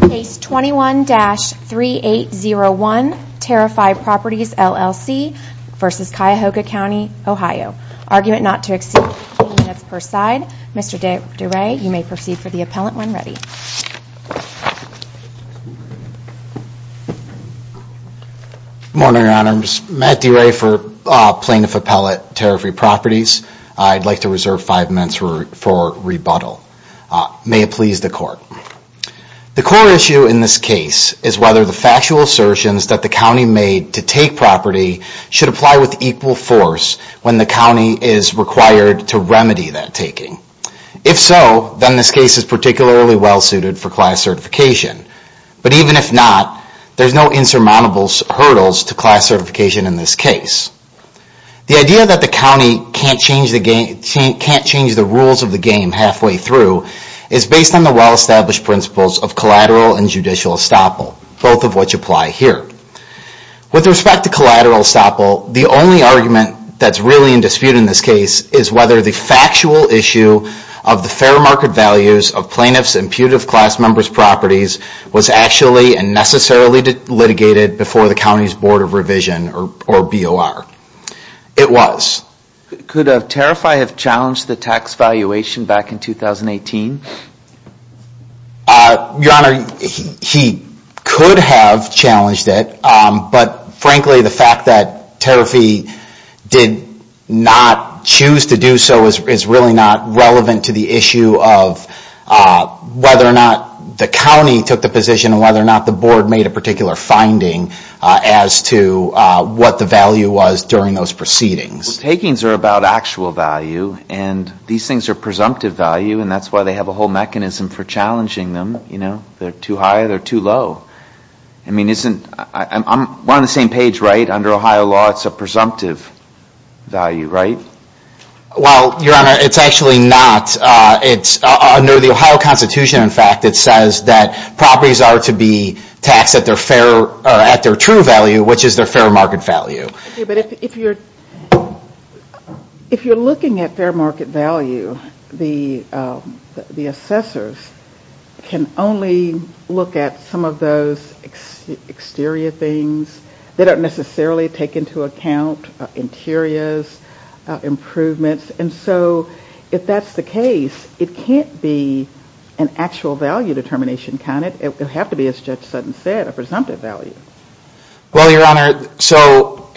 Case 21-3801, Tarrify Properties LLC v. Cuyahoga County OH. Argument not to exceed 15 minutes per side. Mr. DeRay, you may proceed for the appellant when ready. Good morning, Your Honor. I'm Matt DeRay for Plaintiff Appellate, Tarrify Properties. I'd like to reserve five minutes for rebuttal. May it please the Court. The core issue in this case is whether the factual assertions that the county made to take property should apply with equal force when the county is required to remedy that taking. If so, then this case is particularly well suited for class certification. But even if not, there are no insurmountable hurdles to class certification in this case. The idea that the county can't change the rules of the game halfway through is based on the well-established principles of collateral and judicial estoppel, both of which apply here. With respect to collateral estoppel, the only argument that's really in dispute in this case is whether the factual issue of the fair market values of plaintiffs' and putative class members' properties was actually and necessarily litigated before the county's Board of Revision, or BOR. It was. Could Tarrify have challenged the tax valuation back in 2018? Your Honor, he could have challenged it, but frankly, the fact that Tarrify did not choose to do so is really not relevant to the issue of whether or not the county took the position and whether or not the Board made a particular finding as to what the value was during those proceedings. Well, takings are about actual value, and these things are presumptive value, and that's why they have a whole mechanism for challenging them. If they're too high, they're too low. I'm on the same page, right? Under Ohio law, it's a presumptive value, right? Well, Your Honor, it's actually not. Under the Ohio Constitution, in fact, it says that properties are to be taxed at their true value, which is their fair market value. But if you're looking at fair market value, the assessors can only look at some of those exterior things. They don't necessarily take into account interiors, improvements, and so if that's the case, it can't be an actual value determination, can it? It would have to be, as Judge Sutton said, a presumptive value. Well, Your Honor, so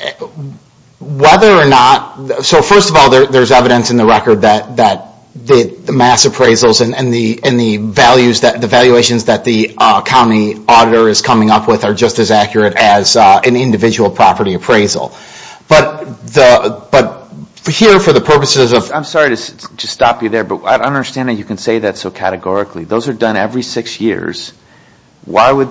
whether or not... So first of all, there's evidence in the record that the mass appraisals and the valuations that the county auditor is coming up with are just as accurate as an individual property appraisal. But here, for the purposes of... I'm sorry to stop you there, but I don't understand how you can say that so categorically. Those are done every six years. Why would...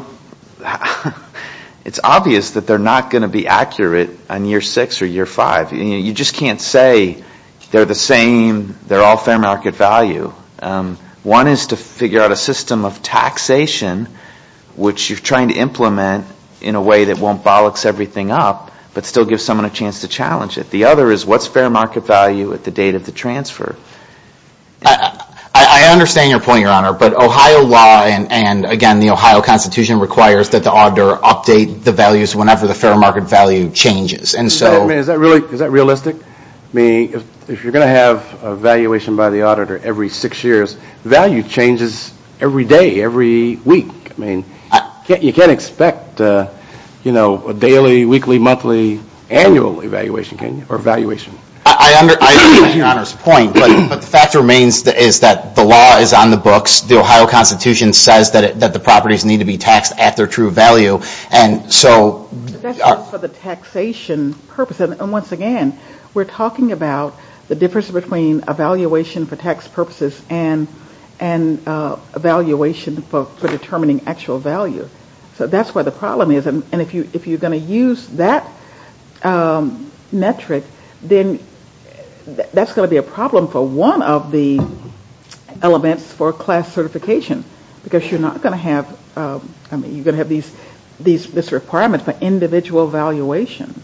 It's obvious that they're not going to be accurate on year six or year five. You just can't say they're the same, they're all fair market value. One is to figure out a system of taxation, which you're trying to implement in a way that won't bollocks everything up, but still gives someone a chance to challenge it. The other is what's fair market value at the date of the transfer? I understand your point, Your Honor, but Ohio law and, again, the Ohio Constitution requires that the auditor update the values whenever the fair market value changes. Is that realistic? Meaning if you're going to have a valuation by the auditor every six years, value changes every day, every week. You can't expect a daily, weekly, monthly, annual evaluation, can you, or valuation? I understand Your Honor's point, but the fact remains is that the law is on the books. The Ohio Constitution says that the properties need to be taxed at their true value, and so... That's for the taxation purpose, and once again, we're talking about the difference between evaluation for tax purposes and evaluation for determining actual value. So that's where the problem is, and if you're going to use that metric, then that's going to be a problem for one of the elements for class certification, because you're not going to have... I mean, you're going to have these requirements for individual valuations.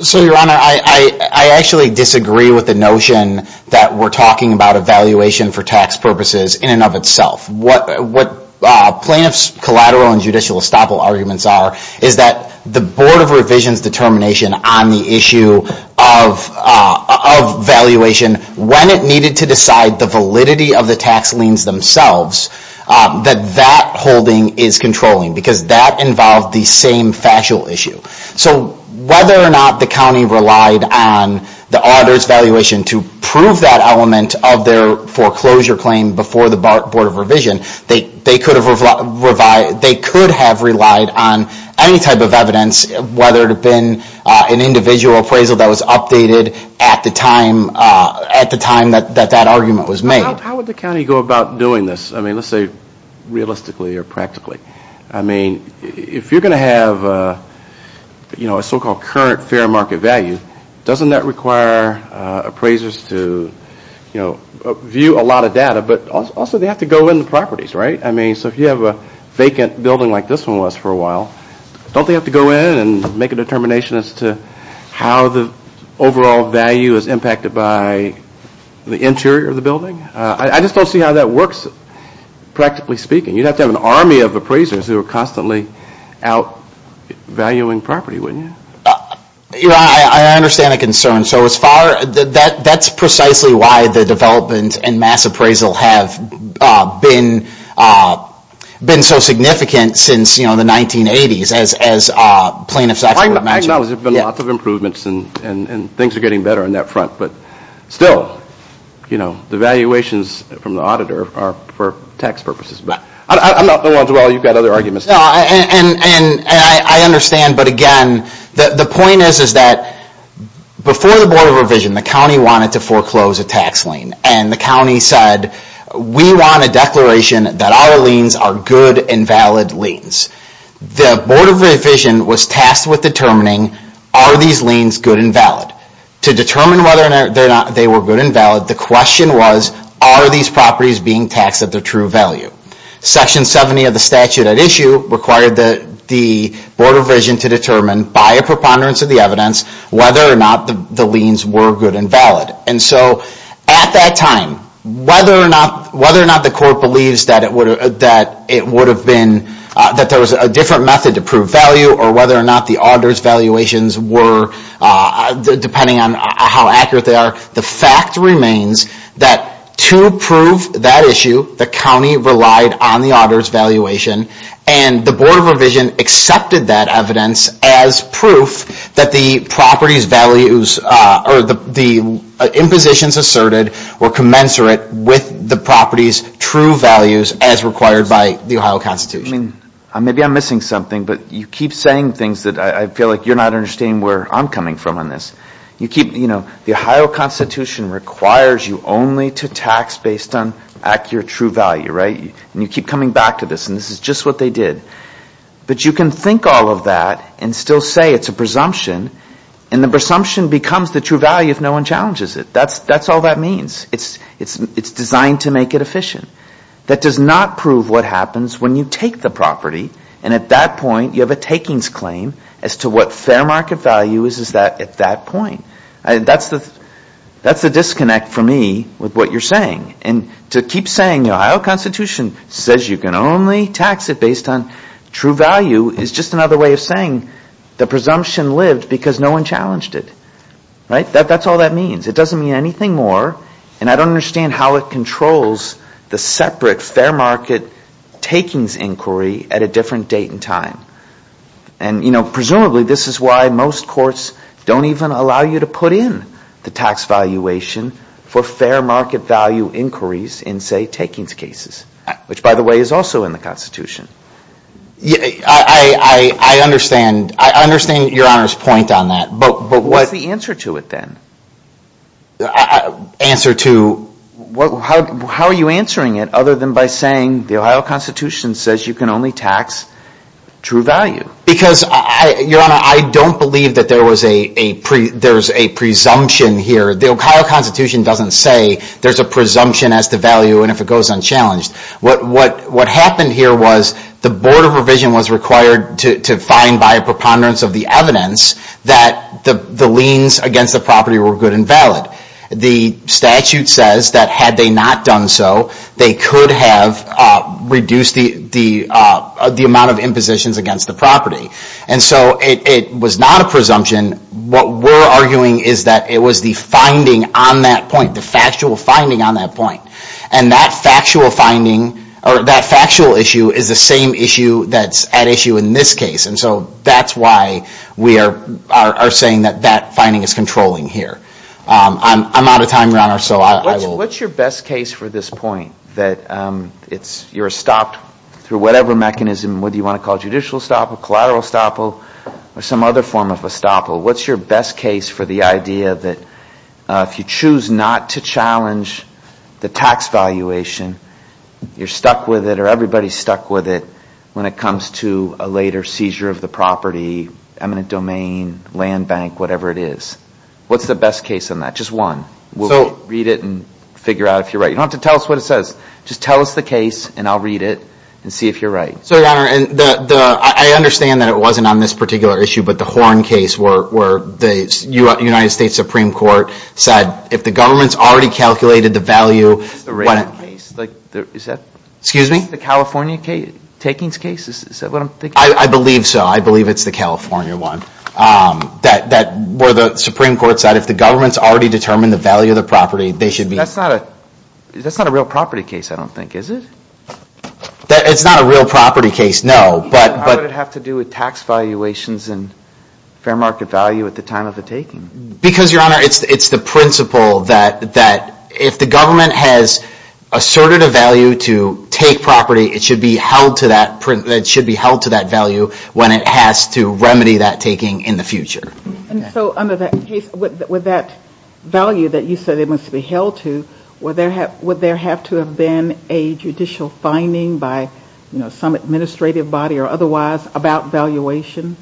So, Your Honor, I actually disagree with the notion that we're talking about evaluation for tax purposes in and of itself. What plaintiffs' collateral and judicial estoppel arguments are is that the Board of Revision's determination on the issue of valuation, when it needed to decide the validity of the tax liens themselves, that that holding is controlling, because that involved the same factual issue. So whether or not the county relied on the auditor's valuation to prove that element of their foreclosure claim before the Board of Revision, they could have relied on any type of evidence, whether it had been an individual appraisal that was updated at the time that that argument was made. How would the county go about doing this? I mean, let's say realistically or practically. I mean, if you're going to have a so-called current fair market value, doesn't that require appraisers to view a lot of data, but also they have to go in the properties, right? I mean, so if you have a vacant building like this one was for a while, don't they have to go in and make a determination as to how the overall value is impacted by the interior of the building? I just don't see how that works, practically speaking. You'd have to have an army of appraisers who are constantly out valuing property, wouldn't you? I understand the concern. So that's precisely why the development and mass appraisal have been so significant since the 1980s, as plaintiffs actually would imagine. I know there have been lots of improvements and things are getting better on that front, but still, the valuations from the auditor are for tax purposes. I understand, but again, the point is that before the Board of Revision, the county wanted to foreclose a tax lien. And the county said, we want a declaration that our liens are good and valid liens. The Board of Revision was tasked with determining, are these liens good and valid? To determine whether or not they were good and valid, the question was, are these properties being taxed at their true value? Section 70 of the statute at issue required the Board of Revision to determine, by a preponderance of the evidence, whether or not the liens were good and valid. And so, at that time, whether or not the court believes that there was a different method to prove value, or whether or not the auditor's valuations were, depending on how accurate they are, the fact remains that to prove that issue, the county relied on the auditor's valuation. And the Board of Revision accepted that evidence as proof that the impositions asserted were commensurate with the property's true values as required by the Ohio Constitution. Maybe I'm missing something, but you keep saying things that I feel like you're not understanding where I'm coming from on this. The Ohio Constitution requires you only to tax based on accurate true value, right? And you keep coming back to this, and this is just what they did. But you can think all of that and still say it's a presumption, and the presumption becomes the true value if no one challenges it. That's all that means. It's designed to make it efficient. That does not prove what happens when you take the property, and at that point, you have a takings claim as to what fair market value is at that point. That's the disconnect for me with what you're saying. And to keep saying the Ohio Constitution says you can only tax it based on true value is just another way of saying the presumption lived because no one challenged it, right? That's all that means. It doesn't mean anything more, and I don't understand how it controls the separate fair market takings inquiry at a different date and time. And presumably, this is why most courts don't even allow you to put in the tax valuation for fair market value inquiries in, say, takings cases, which, by the way, is also in the Constitution. I understand. I understand Your Honor's point on that. But what's the answer to it then? Answer to? How are you answering it other than by saying the Ohio Constitution says you can only tax true value? Because, Your Honor, I don't believe that there's a presumption here. The Ohio Constitution doesn't say there's a presumption as to value and if it goes unchallenged. What happened here was the Board of Revision was required to find by a preponderance of the evidence that the liens against the property were good and valid. The statute says that had they not done so, they could have reduced the amount of impositions against the property. And so it was not a presumption. What we're arguing is that it was the finding on that point, the factual finding on that point. And that factual finding or that factual issue is the same issue that's at issue in this case. And so that's why we are saying that that finding is controlling here. I'm out of time, Your Honor, so I will. What's your best case for this point, that you're stopped through whatever mechanism, whether you want to call it judicial estoppel, collateral estoppel, or some other form of estoppel? What's your best case for the idea that if you choose not to challenge the tax valuation, you're stuck with it or everybody's stuck with it when it comes to a later seizure of the property, eminent domain, land bank, whatever it is? What's the best case on that? Just one. We'll read it and figure out if you're right. You don't have to tell us what it says. Just tell us the case and I'll read it and see if you're right. So, Your Honor, I understand that it wasn't on this particular issue, but the Horne case where the United States Supreme Court said if the government's already calculated the value. Excuse me? The California takings case, is that what I'm thinking? I believe so. I believe it's the California one. That where the Supreme Court said if the government's already determined the value of the property, they should be. That's not a real property case, I don't think, is it? It's not a real property case, no. How would it have to do with tax valuations and fair market value at the time of the taking? Because, Your Honor, it's the principle that if the government has asserted a value to take property, it should be held to that value when it has to remedy that taking in the future. So, under that case, with that value that you said it must be held to, would there have to have been a judicial finding by some administrative body or otherwise about valuation?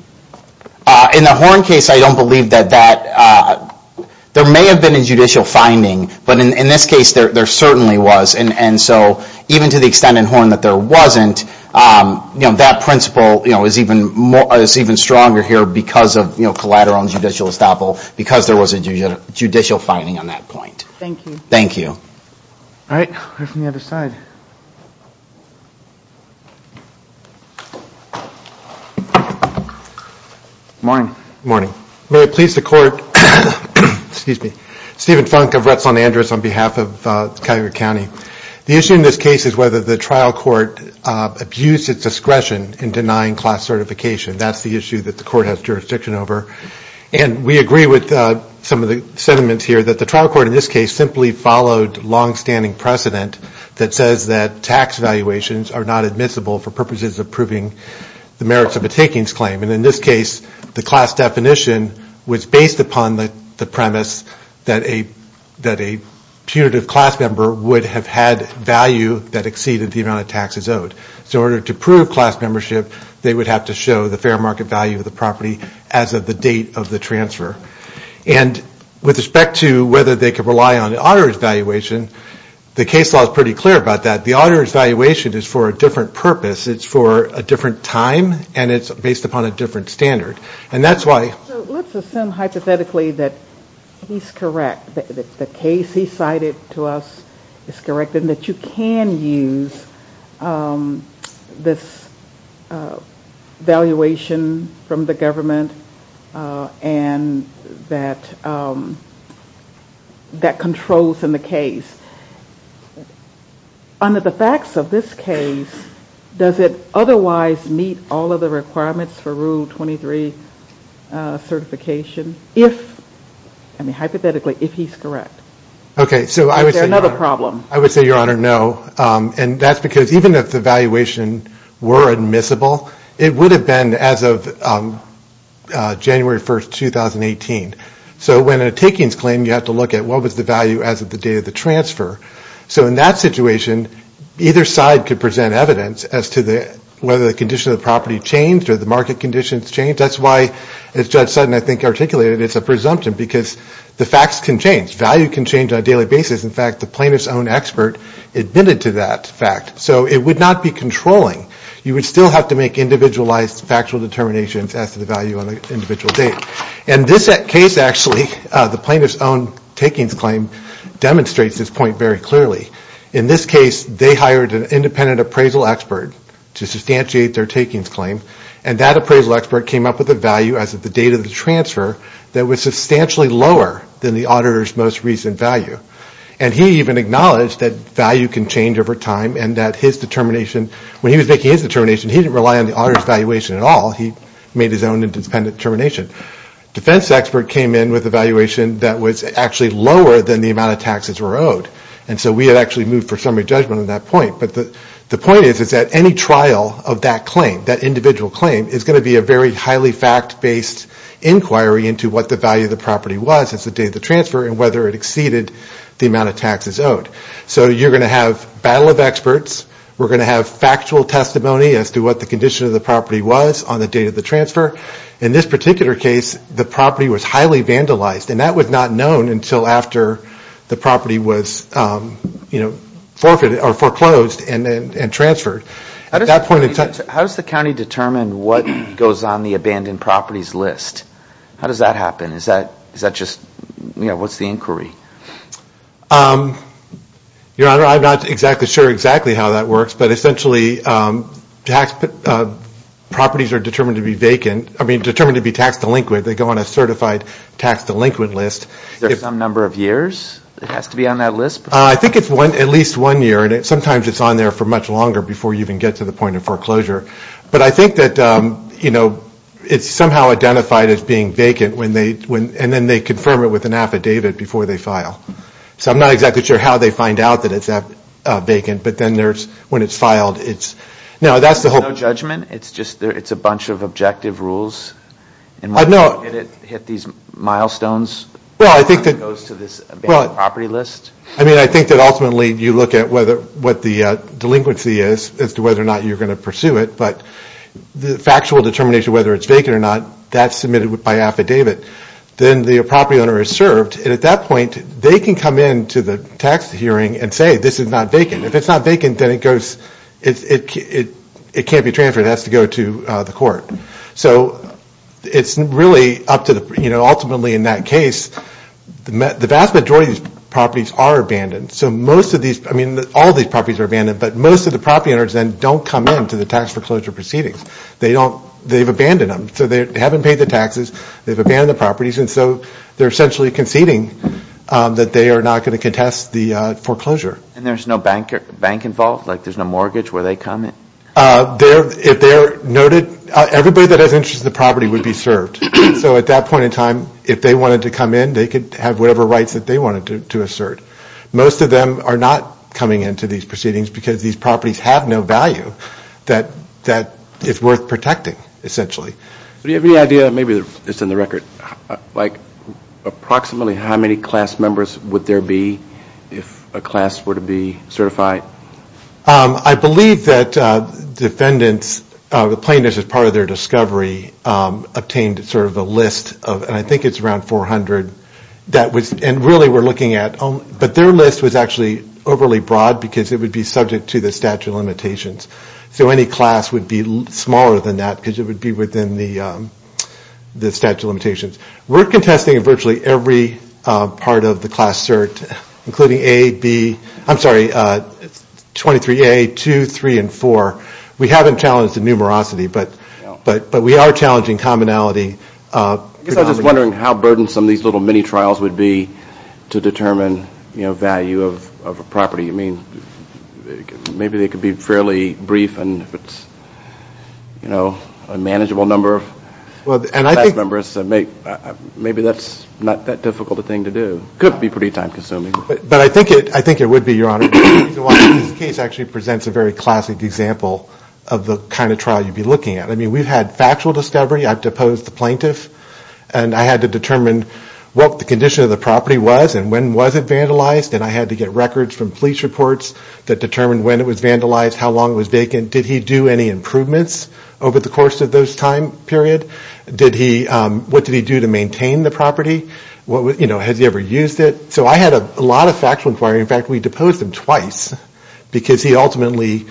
In the Horne case, I don't believe that. There may have been a judicial finding, but in this case, there certainly was. Even to the extent in Horne that there wasn't, that principle is even stronger here because of collateral and judicial estoppel, because there was a judicial finding on that point. Thank you. Morning. Morning. May it please the Court, excuse me, Stephen Funk of Retzland-Andrus on behalf of Cuyahoga County. The issue in this case is whether the trial court abused its discretion in denying class certification. That's the issue that the court has jurisdiction over. And we agree with some of the sentiments here that the trial court in this case simply followed longstanding precedent that says that tax valuations are not admissible for purposes of proving the merits of a takings claim. And in this case, the class definition was based upon the premise that a punitive class member would have had value that exceeded the amount of taxes owed. So in order to prove class membership, they would have to show the fair market value of the property as of the date of the transfer. And with respect to whether they could rely on the auditor's valuation, the case law is pretty clear about that. The auditor's valuation is for a different purpose. It's for a different time and it's based upon a different standard. And that's why... So let's assume hypothetically that he's correct, that the case he cited to us is correct and that you can use this valuation from the government and that controls in the case. Under the facts of this case, does it otherwise meet all of the requirements for Rule 23 certification if, I mean hypothetically, if he's correct? Is there another problem? I would say, Your Honor, no. And that's because even if the valuation were admissible, it would have been as of January 1st, 2018. So when a takings claim, you have to look at what was the value as of the day of the transfer. So in that situation, either side could present evidence as to whether the condition of the property changed or the market conditions changed. That's why, as Judge Sutton, I think, articulated, it's a presumption because the facts can change. Value can change on a daily basis. In fact, the plaintiff's own expert admitted to that fact. So it would not be controlling. You would still have to make individualized factual determinations as to the value on an individual date. And this case, actually, the plaintiff's own takings claim demonstrates this point very clearly. In this case, they hired an independent appraisal expert to substantiate their takings claim. And that appraisal expert came up with a value as of the date of the transfer that was substantially lower than the auditor's most recent value. And he even acknowledged that value can change over time and that his determination, when he was making his determination, he didn't rely on the auditor's valuation at all. He made his own independent determination. Defense expert came in with a valuation that was actually lower than the amount of taxes were owed. And so we had actually moved for summary judgment on that point. But the point is that any trial of that claim, that individual claim, is going to be a very highly fact-based inquiry into what the value of the property was as the date of the transfer and whether it exceeded the amount of taxes owed. We're going to have factual testimony as to what the condition of the property was on the date of the transfer. In this particular case, the property was highly vandalized. And that was not known until after the property was foreclosed and transferred. How does the county determine what goes on the abandoned properties list? How does that happen? Your Honor, I'm not exactly sure exactly how that works. But essentially, properties are determined to be taxed delinquent. They go on a certified tax delinquent list. Is there some number of years it has to be on that list? I think it's at least one year. And sometimes it's on there for much longer before you even get to the point of foreclosure. But I think that it's somehow identified as being vacant. And then they confirm it with an affidavit before they file. So I'm not exactly sure how they find out that it's vacant. But then when it's filed, it's... There's no judgment? It's just a bunch of objective rules? No. And it hit these milestones? Well, I think that... It goes to this abandoned property list? I mean, I think that ultimately you look at what the delinquency is as to whether or not you're going to pursue it. But the factual determination whether it's vacant or not, that's submitted by affidavit. Then the property owner is served. And at that point, they can come in to the tax hearing and say, this is not vacant. If it's not vacant, then it goes... It can't be transferred. It has to go to the court. So it's really up to the... So most of these... I mean, all these properties are abandoned. But most of the property owners then don't come in to the tax foreclosure proceedings. They don't... They've abandoned them. So they haven't paid the taxes. They've abandoned the properties. And so they're essentially conceding that they are not going to contest the foreclosure. And there's no bank involved? Like there's no mortgage where they come in? If they're noted... Everybody that has interest in the property would be served. So at that point in time, if they wanted to come in, they could have whatever rights that they wanted to assert. Most of them are not coming in to these proceedings because these properties have no value that is worth protecting, essentially. Do you have any idea... Maybe it's in the record. Like approximately how many class members would there be if a class were to be certified? I believe that defendants, the plaintiffs, as part of their discovery, obtained sort of a list of... And I think it's around 400. And really we're looking at... But their list was actually overly broad because it would be subject to the statute of limitations. So any class would be smaller than that because it would be within the statute of limitations. We're contesting in virtually every part of the class cert including A, B... I'm sorry, 23A, 2, 3, and 4. We haven't challenged the numerosity. But we are challenging commonality. I guess I was just wondering how burdensome these little mini-trials would be to determine value of a property. I mean, maybe they could be fairly brief and if it's a manageable number of class members, maybe that's not that difficult a thing to do. It could be pretty time-consuming. But I think it would be, Your Honor. This case actually presents a very classic example of the kind of trial you'd be looking at. I mean, we've had factual discovery. I've deposed the plaintiff. And I had to determine what the condition of the property was and when was it vandalized. And I had to get records from police reports that determined when it was vandalized, how long it was vacant. Did he do any improvements over the course of those time period? What did he do to maintain the property? Has he ever used it? So I had a lot of factual inquiry. In fact, we deposed him twice because he ultimately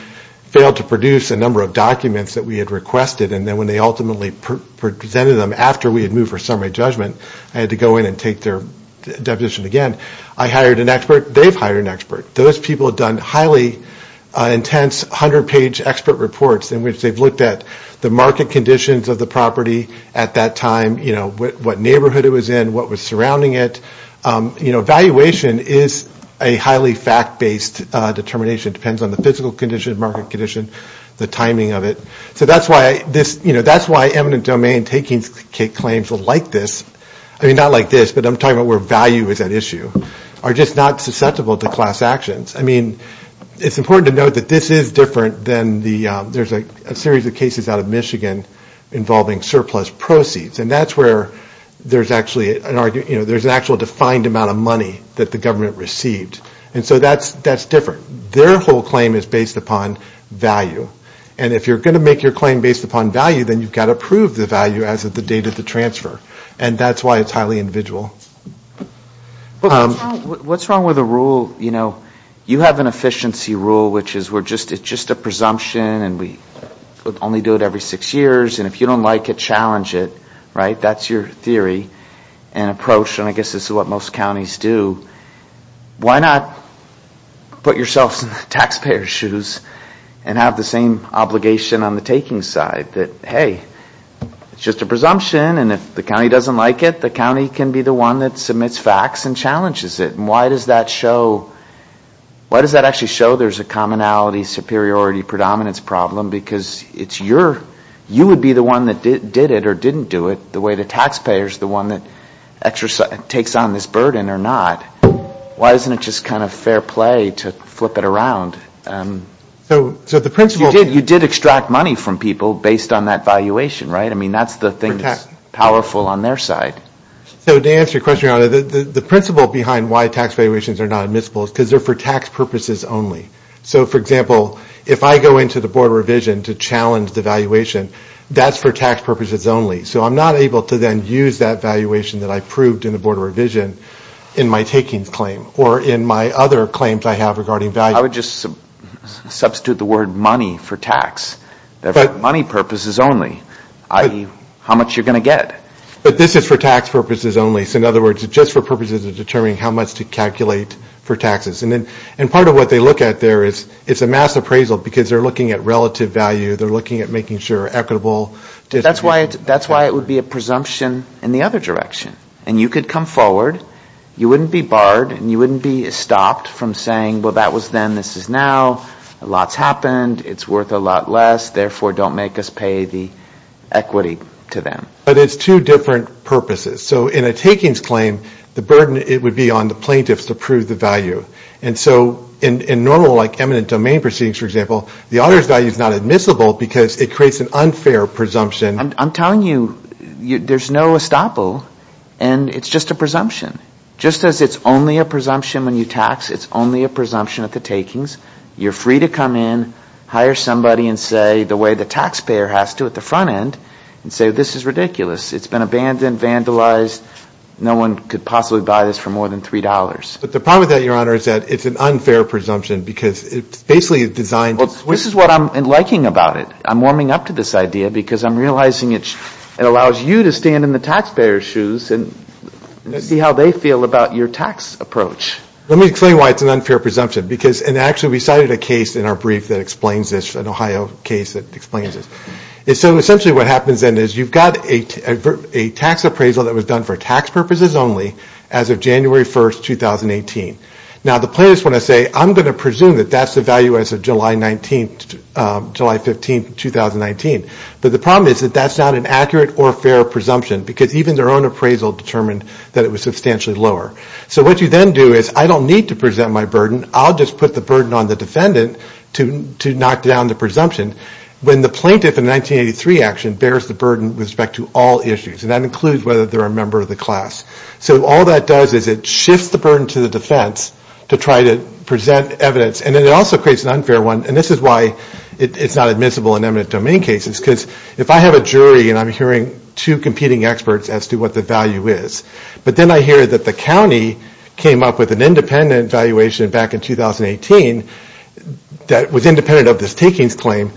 failed to produce a number of documents that we had requested. And then when they ultimately presented them after we had moved for summary judgment, I had to go in and take their deposition again. I hired an expert. They've hired an expert. Those people have done highly intense 100-page expert reports in which they've looked at the market conditions of the property at that time, what neighborhood it was in, what was surrounding it. You know, valuation is a highly fact-based determination. It depends on the physical condition, market condition, the timing of it. So that's why this, you know, that's why eminent domain taking claims like this, I mean, not like this, but I'm talking about where value is at issue, are just not susceptible to class actions. I mean, it's important to note that this is different than the, there's a series of cases out of Michigan involving surplus proceeds. And that's where there's actually an argument, you know, there's an actual defined amount of money that the government received. And so that's different. Their whole claim is based upon value. And if you're going to make your claim based upon value, then you've got to prove the value as of the date of the transfer. And that's why it's highly individual. What's wrong with a rule, you know, you have an efficiency rule which is we're just, it's just a presumption, and we only do it every six years. And if you don't like it, challenge it. Right? That's your theory and approach. And I guess this is what most counties do. Why not put yourselves in the taxpayer's shoes and have the same obligation on the taking side? That, hey, it's just a presumption, and if the county doesn't like it, the county can be the one that submits facts and challenges it. And why does that show, why does that actually show there's a commonality superiority predominance problem? Because it's your, you would be the one that did it or didn't do it the way the taxpayer is the one that takes on this burden or not. Why isn't it just kind of fair play to flip it around? You did extract money from people based on that valuation, right? I mean, that's the thing that's powerful on their side. So to answer your question, the principle behind why tax valuations are not admissible is because they're for tax purposes only. So, for example, if I go into the Board of Revision to challenge the valuation, that's for tax purposes only. So I'm not able to then use that valuation that I proved in the Board of Revision in my takings claim or in my other claims I have regarding value. I would just substitute the word money for tax. They're for money purposes only, i.e., how much you're going to get. But this is for tax purposes only. So in other words, it's just for purposes of determining how much to calculate for taxes. And part of what they look at there is it's a mass appraisal because they're looking at relative value. They're looking at making sure equitable. That's why it would be a presumption in the other direction. And you could come forward. You wouldn't be barred and you wouldn't be stopped from saying, well, that was then, this is now. A lot's happened. It's worth a lot less. Therefore, don't make us pay the equity to them. But it's two different purposes. So in a takings claim, the burden would be on the plaintiffs to prove the value. And so in normal, like, eminent domain proceedings, for example, the auditor's value is not admissible because it creates an unfair presumption. I'm telling you, there's no estoppel. And it's just a presumption. Just as it's only a presumption when you tax, it's only a presumption at the takings. You're free to come in, hire somebody and say the way the taxpayer has to at the front end and say, this is ridiculous. It's been abandoned, vandalized. No one could possibly buy this for more than $3. But the problem with that, Your Honor, is that it's an unfair presumption because it's basically designed to switch. Well, this is what I'm liking about it. I'm warming up to this idea because I'm realizing it allows you to stand in the taxpayer's shoes and see how they feel about your tax approach. Let me explain why it's an unfair presumption. Because, and actually we cited a case in our brief that explains this, an Ohio case that explains this. So essentially what happens then is you've got a tax appraisal that was done for tax purposes only as of January 1st, 2018. Now, the plaintiffs want to say, I'm going to presume that that's the value as of July 19th, July 15th, 2019. But the problem is that that's not an accurate or fair presumption because even their own appraisal determined that it was substantially lower. So what you then do is I don't need to present my burden. I'll just put the burden on the defendant to knock down the presumption. When the plaintiff in the 1983 action bears the burden with respect to all issues, and that includes whether they're a member of the class. So all that does is it shifts the burden to the defense to try to present evidence. And then it also creates an unfair one. And this is why it's not admissible in eminent domain cases. Because if I have a jury and I'm hearing two competing experts as to what the value is, but then I hear that the county came up with an independent valuation back in 2018 that was independent of this takings claim,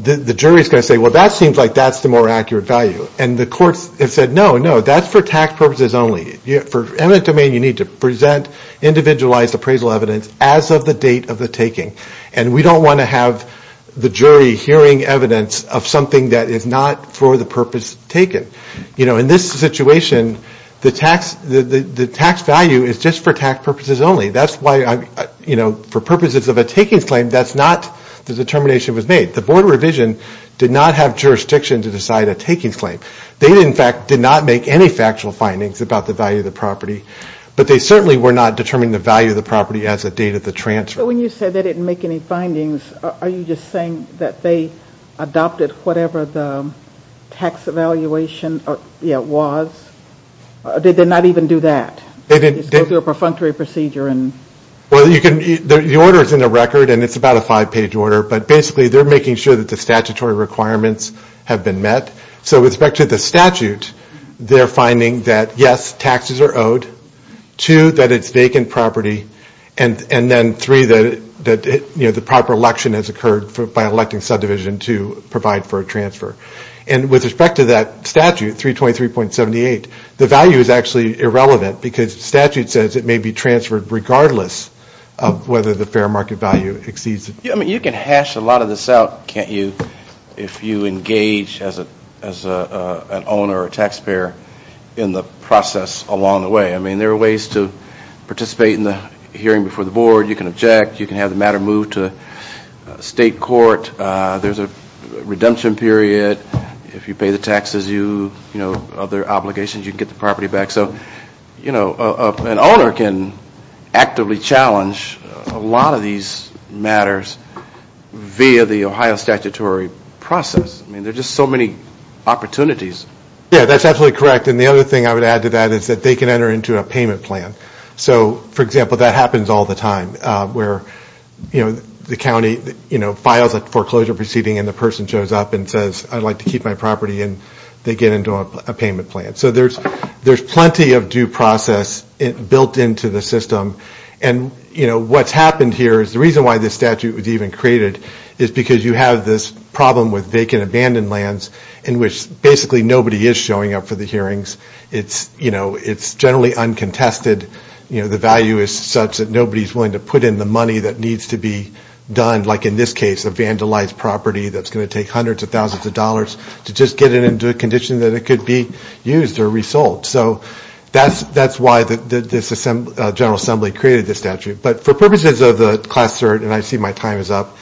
the jury is going to say, well, that seems like that's the more accurate value. And the courts have said, no, no, that's for tax purposes only. For eminent domain, you need to present individualized appraisal evidence as of the date of the taking. And we don't want to have the jury hearing evidence of something that is not for the purpose taken. You know, in this situation, the tax value is just for tax purposes only. That's why, you know, for purposes of a takings claim, that's not the determination that was made. The board revision did not have jurisdiction to decide a takings claim. They, in fact, did not make any factual findings about the value of the property. But they certainly were not determining the value of the property as of the date of the transfer. So when you say they didn't make any findings, are you just saying that they adopted whatever the tax evaluation was? Did they not even do that? Just go through a perfunctory procedure? Well, the order is in the record, and it's about a five-page order, but basically they're making sure that the statutory requirements have been met. So with respect to the statute, they're finding that, yes, taxes are owed, two, that it's vacant property, and then three, that the proper election has occurred by electing subdivision to provide for a transfer. And with respect to that statute, 323.78, the value is actually irrelevant because the statute says it may be transferred regardless of whether the fair market value exceeds it. I mean, you can hash a lot of this out, can't you, if you engage as an owner or taxpayer in the process along the way. I mean, there are ways to participate in the hearing before the board. You can object. You can have the matter moved to state court. There's a redemption period. If you pay the taxes, you know, other obligations, you can get the property back. So, you know, an owner can actively challenge a lot of these matters via the Ohio statutory process. I mean, there are just so many opportunities. Yeah, that's absolutely correct. And the other thing I would add to that is that they can enter into a payment plan. So, for example, that happens all the time where, you know, the county, you know, files a foreclosure proceeding and the person shows up and says, I'd like to keep my property and they get into a payment plan. So there's plenty of due process built into the system. And, you know, what's happened here is the reason why this statute was even created is because you have this problem with vacant abandoned lands in which basically nobody is showing up for the hearings. It's, you know, it's generally uncontested. You know, the value is such that nobody's willing to put in the money that needs to be done, like in this case, a vandalized property that's going to take hundreds of thousands of dollars to just get it into a condition that it could be used or resold. So that's why this General Assembly created this statute. But for purposes of the class cert, and I see my time is up,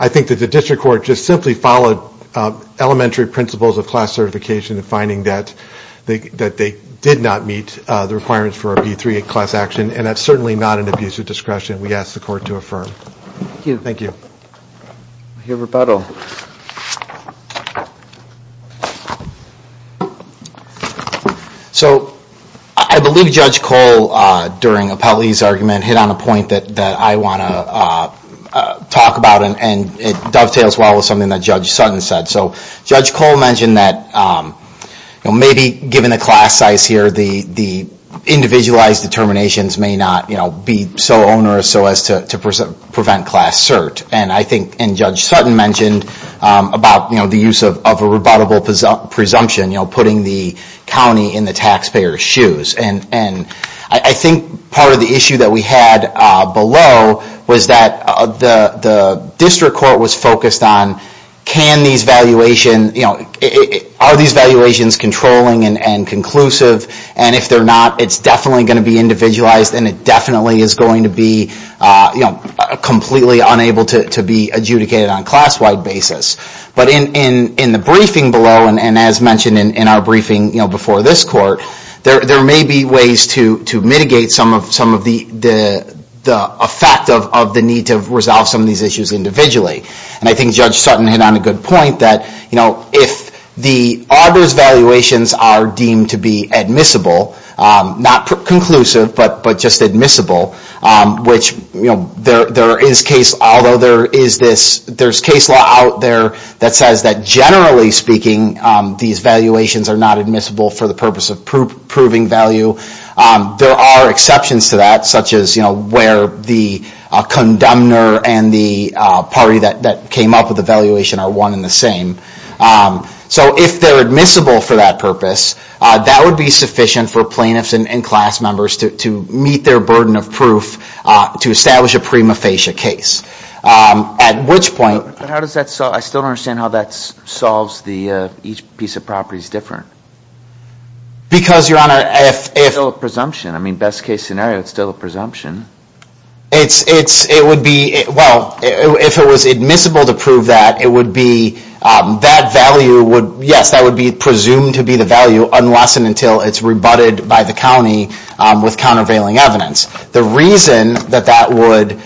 I think that the district court just simply followed elementary principles of class certification in finding that they did not meet the requirements for a P-3 class action, and that's certainly not an abuse of discretion. We ask the court to affirm. Thank you. I hear rebuttal. So I believe Judge Cole, during Appellee's argument, hit on a point that I want to talk about, and it dovetails well with something that Judge Sutton said. So Judge Cole mentioned that maybe given the class size here, the individualized determinations may not be so onerous so as to prevent class cert. And Judge Sutton mentioned about the use of a rebuttable presumption, you know, putting the county in the taxpayer's shoes. I think part of the issue that we had below was that the district court was focused on, are these valuations controlling and conclusive? And if they're not, it's definitely going to be individualized, and it definitely is going to be completely unable to be adjudicated on a class-wide basis. But in the briefing below, and as mentioned in our briefing before this court, there may be ways to mitigate some of the effect of the need to resolve some of these issues individually. And I think Judge Sutton hit on a good point that, you know, if the Arbor's valuations are deemed to be admissible, not conclusive, but just admissible, which, you know, there is case law out there that says that generally speaking, these valuations are not admissible for the purpose of proving value. There are exceptions to that, such as, you know, where the condemner and the party that came up with the valuation are one and the same. So if they're admissible for that purpose, that would be sufficient for plaintiffs and class members to meet their burden of proof to establish a prima facie case. At which point- But how does that solve- I still don't understand how that solves the- each piece of property is different. Because, Your Honor, if- It's still a presumption. I mean, best case scenario, it's still a presumption. It's- it would be- well, if it was admissible to prove that, it would be- that value would- yes, that would be presumed to be the value unless and until it's rebutted by the county with countervailing evidence. The reason that that would-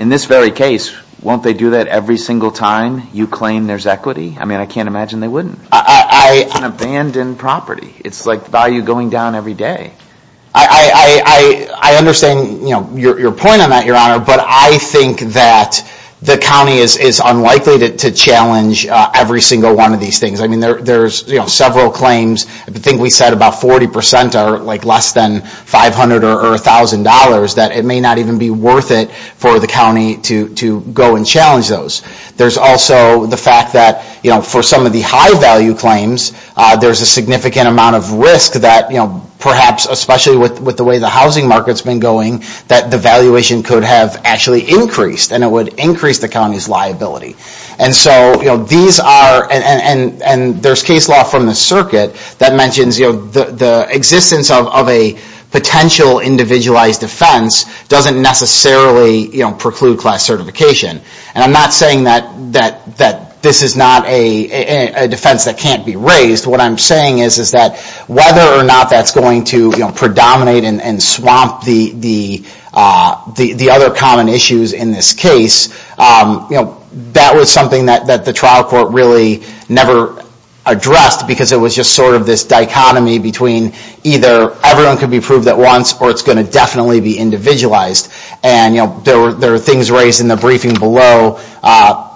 In this very case, won't they do that every single time you claim there's equity? I mean, I can't imagine they wouldn't. It's an abandoned property. It's like value going down every day. I understand, you know, your point on that, Your Honor, but I think that the county is unlikely to challenge every single one of these things. I mean, there's, you know, several claims. I think we said about 40 percent are, like, less than $500 or $1,000, that it may not even be worth it for the county to go and challenge those. There's also the fact that, you know, for some of the high-value claims, there's a significant amount of risk that, you know, perhaps especially with the way the housing market's been going, that the valuation could have actually increased, and it would increase the county's liability. And so, you know, these are- and there's case law from the circuit that mentions, you know, the existence of a potential individualized defense doesn't necessarily, you know, preclude class certification. And I'm not saying that this is not a defense that can't be raised. What I'm saying is that whether or not that's going to, you know, predominate and swamp the other common issues in this case, you know, that was something that the trial court really never addressed because it was just sort of this dichotomy between either everyone could be approved at once or it's going to definitely be individualized. And, you know, there were things raised in the briefing below,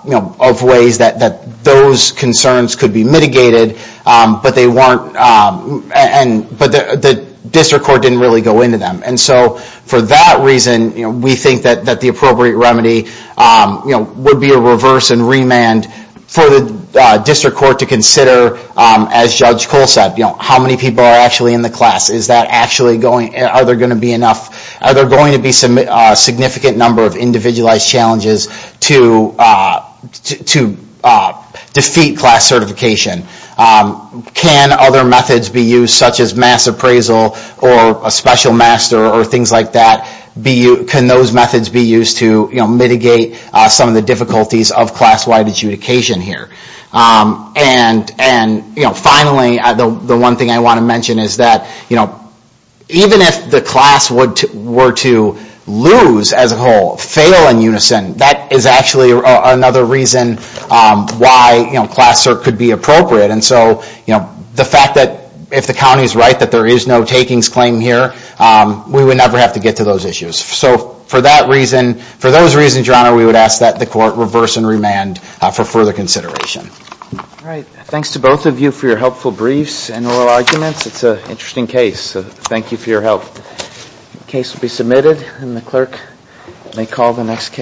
you know, of ways that those concerns could be mitigated, but they weren't- but the district court didn't really go into them. And so for that reason, you know, we think that the appropriate remedy, you know, would be a reverse and remand for the district court to consider, as Judge Cole said, you know, how many people are actually in the class? Is that actually going- are there going to be enough- are there going to be a significant number of individualized challenges to defeat class certification? Can other methods be used, such as mass appraisal or a special master or things like that, can those methods be used to, you know, mitigate some of the difficulties of class-wide adjudication here? And, you know, finally, the one thing I want to mention is that, you know, even if the class were to lose as a whole, fail in unison, that is actually another reason why, you know, class cert could be appropriate. And so, you know, the fact that if the county is right that there is no takings claim here, we would never have to get to those issues. So for that reason, for those reasons, Your Honor, we would ask that the court reverse and remand for further consideration. All right. Thanks to both of you for your helpful briefs and oral arguments. It's an interesting case, so thank you for your help. The case will be submitted, and the clerk may call the next case.